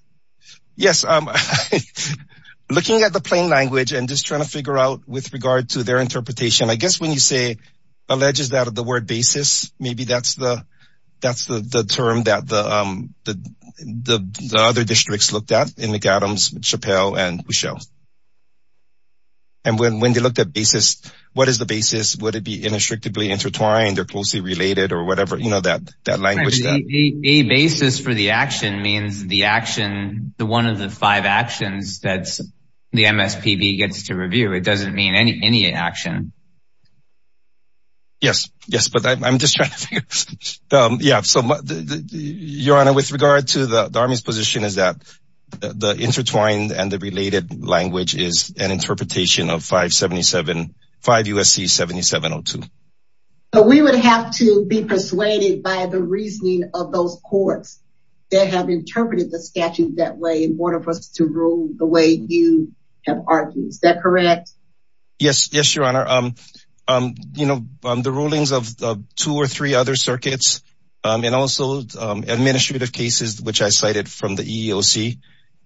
Yes, looking at the plain language and just trying to figure out with regard to their interpretation, I guess when you say alleges that of the word basis, maybe that's the term that the other districts looked at in McAdams, Chappelle, and Chau. And when they looked at basis, what is the basis? Would it be inextricably intertwined or closely related or whatever, you know, that language? A basis for the action means the action, the one of the five actions that the MSPB gets to review. It doesn't mean any action. Yes, yes, but I'm just trying to figure out. So, Your Honor, with regard to the Army's position is that the intertwined and the related language is an interpretation of 577, 5 U.S.C. 7702. But we would have to be persuaded by the reasoning of those courts that have interpreted the statute that way in order for us to rule the way you have argued. Is that correct? Yes, yes, Your Honor. You know, the rulings of two or three other circuits and also administrative cases, which I cited from the EOC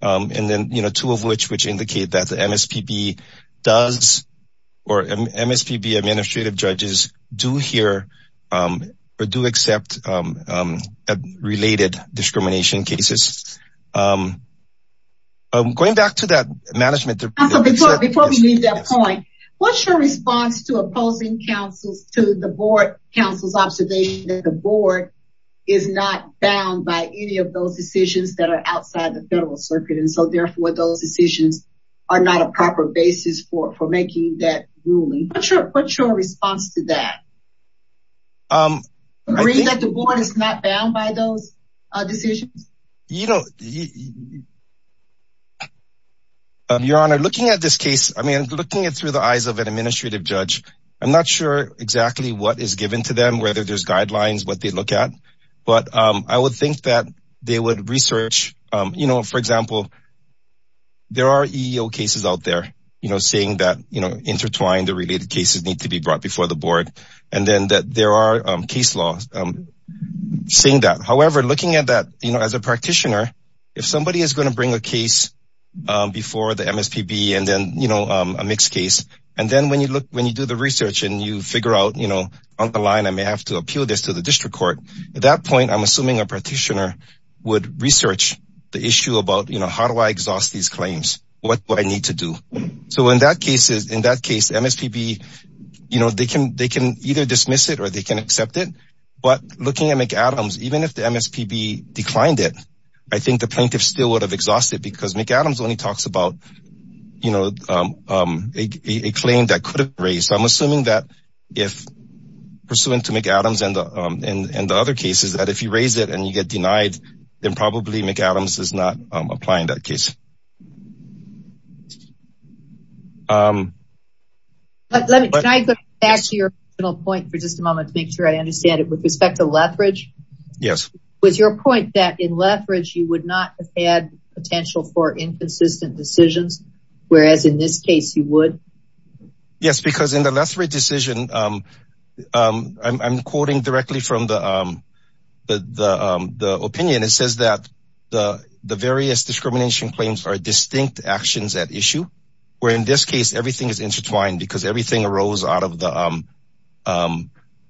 and then two of which which indicate that the MSPB does or MSPB administrative judges do hear or do accept related discrimination cases. Going back to that management, before we leave that point, what's your response to opposing counsels to the board counsel's observation that the board is not bound by any of those decisions that are outside the federal circuit? And so therefore, those decisions are not a proper basis for making that ruling. What's your response to that? Do you agree that the board is not bound by those decisions? You know, Your Honor, looking at this case, I mean, looking at it through the eyes of an administrative judge, I'm not sure exactly what is given to them, whether there's guidelines, what they look at. But I would think that they would research, you know, for example, there are EEO cases out there, you know, saying that, you know, intertwined the related cases need to be brought before the board. And then that there are case laws saying that, however, looking at that, you know, as a practitioner, if somebody is going to bring a case before the MSPB and then, you know, a mixed case. And then when you look, when you do the research and you figure out, you know, on the line, I may have to appeal this to the district court. At that point, I'm assuming a practitioner would research the issue about, you know, how do I exhaust these claims? What do I need to do? So in that case, MSPB, you know, they can either dismiss it or they can accept it. But looking at McAdams, even if the MSPB declined it, I think the plaintiff still would have exhausted it because McAdams only talks about, you know, a claim that could have raised. So I'm assuming that if pursuant to McAdams and the other cases that if you raise it and you get denied, then probably McAdams is not applying that case. Can I go back to your point for just a moment to make sure I understand it with respect to Lethbridge? Yes. Was your point that in Lethbridge, you would not have had potential for inconsistent decisions, whereas in this case you would? Yes, because in the Lethbridge decision, I'm quoting directly from the opinion. It says that the various discrimination claims are distinct actions at issue, where in this case everything is intertwined because everything arose out of the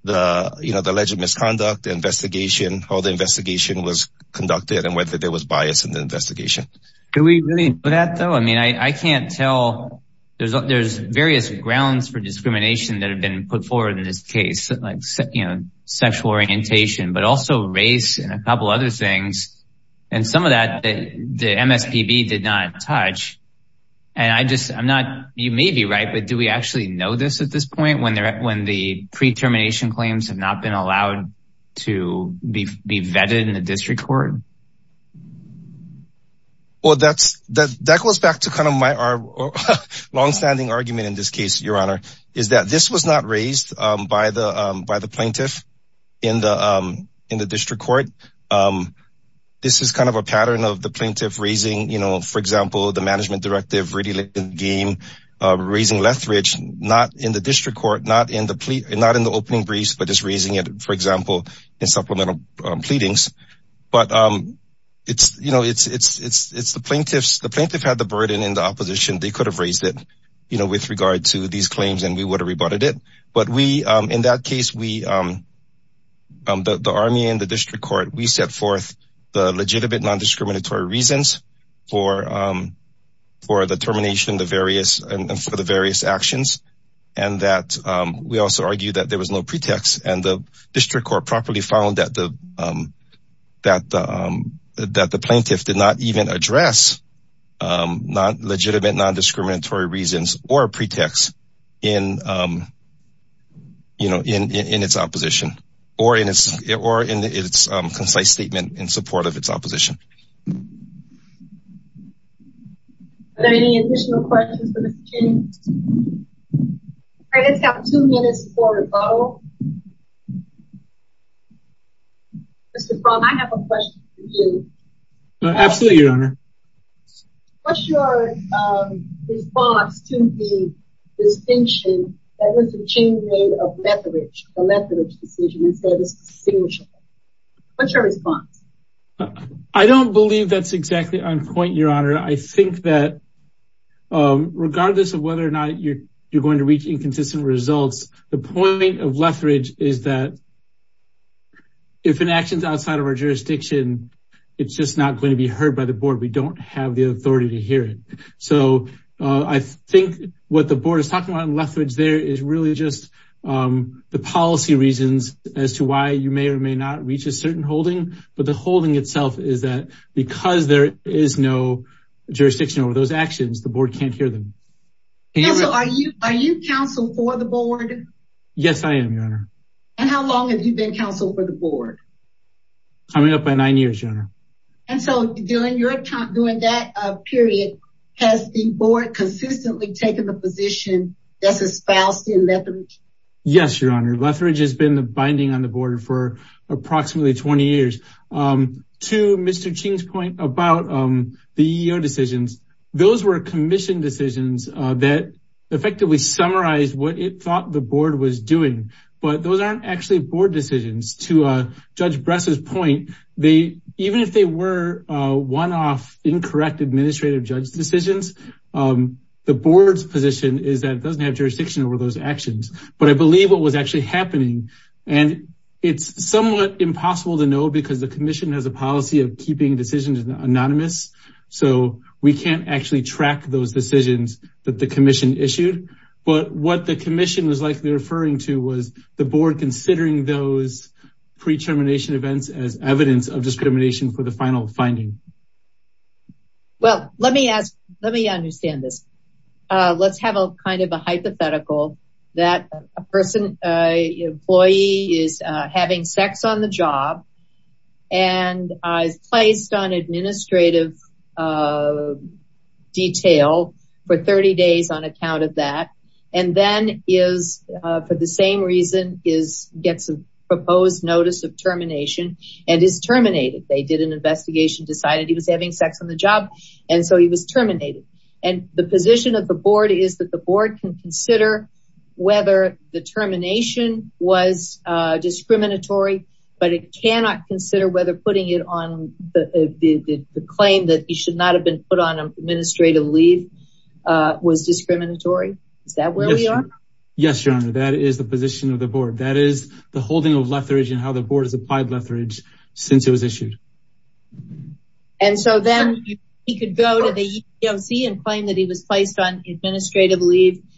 alleged misconduct investigation, how the investigation was conducted and whether there was bias in the investigation. Do we really know that, though? I mean, I can't tell. There's various grounds for discrimination that have been put forward in this case, like sexual orientation, but also race and a couple other things. And some of that the MSPB did not touch. And I just I'm not you may be right, but do we actually know this at this point when the pre-termination claims have not been allowed to be vetted in the district court? Well, that's that that goes back to kind of my longstanding argument in this case, Your Honor, is that this was not raised by the by the plaintiff in the in the district court. This is kind of a pattern of the plaintiff raising, you know, for example, the management directive really game raising Lethbridge, not in the district court, not in the not in the opening briefs, but just raising it, for example, in supplemental pleadings. But it's you know, it's it's it's it's the plaintiffs. The plaintiff had the burden in the opposition. They could have raised it, you know, with regard to these claims and we would have rebutted it. But we in that case, we the army and the district court, we set forth the legitimate non-discriminatory reasons for for the termination, the various and for the various actions. And that we also argue that there was no pretext and the district court properly found that the that that the plaintiff did not even address not legitimate, non-discriminatory reasons or pretext in, you know, in its opposition or in its or in its concise statement in support of its opposition. Are there any additional questions for Mr. Cheney? I guess we have two minutes for rebuttal. Mr. Fromm, I have a question for you. Absolutely, Your Honor. What's your response to the distinction that Mr. Cheney made of Lethbridge, the Lethbridge decision and said it was distinguishable? What's your response? I don't believe that's exactly on point, Your Honor. I think that regardless of whether or not you're going to reach inconsistent results, the point of Lethbridge is that if an action is outside of our jurisdiction, it's just not going to be heard by the board. We don't have the authority to hear it. So I think what the board is talking about in Lethbridge there is really just the policy reasons as to why you may or may not reach a certain holding. But the holding itself is that because there is no jurisdiction over those actions, the board can't hear them. Are you counsel for the board? Yes, I am, Your Honor. And how long have you been counsel for the board? Coming up by nine years, Your Honor. And so during that period, has the board consistently taken the position that's espoused in Lethbridge? Yes, Your Honor. Lethbridge has been the binding on the board for approximately 20 years. To Mr. Cheney's point about the EEO decisions, those were commissioned decisions that effectively summarized what it thought the board was doing. But those aren't actually board decisions. To Judge Bress's point, even if they were one-off, incorrect administrative judge decisions, the board's position is that it doesn't have jurisdiction over those actions. But I believe what was actually happening, and it's somewhat impossible to know because the commission has a policy of keeping decisions anonymous. So we can't actually track those decisions that the commission issued. But what the commission was likely referring to was the board considering those pre-termination events as evidence of discrimination for the final finding. Well, let me ask, let me understand this. Let's have a kind of a hypothetical that a person, an employee is having sex on the job and is placed on administrative detail for 30 days on account of that. And then is, for the same reason, gets a proposed notice of termination and is terminated. They did an investigation, decided he was having sex on the job, and so he was terminated. And the position of the board is that the board can consider whether the termination was discriminatory, but it cannot consider whether putting it on the claim that he should not have been put on administrative leave was discriminatory. Is that where we are? Yes, Your Honor, that is the position of the board. That is the holding of lethargy and how the board has applied lethargy since it was issued. And so then he could go to the EEOC and claim that he was placed on administrative leave discriminatorily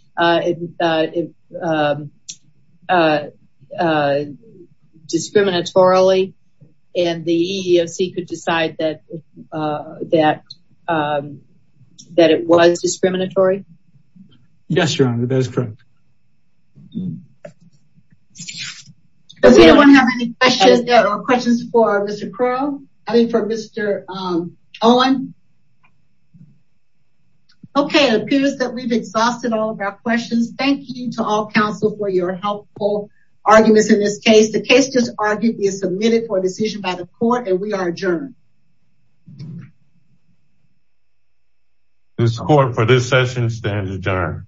and the EEOC could decide that it was discriminatory? Yes, Your Honor, that is correct. Does anyone have any questions? There are questions for Mr. Crow, I mean for Mr. Owen. Okay, it appears that we've exhausted all of our questions. Thank you to all counsel for your helpful arguments in this case. The case just argued is submitted for decision by the court and we are adjourned. This court for this session stands adjourned. Thank you.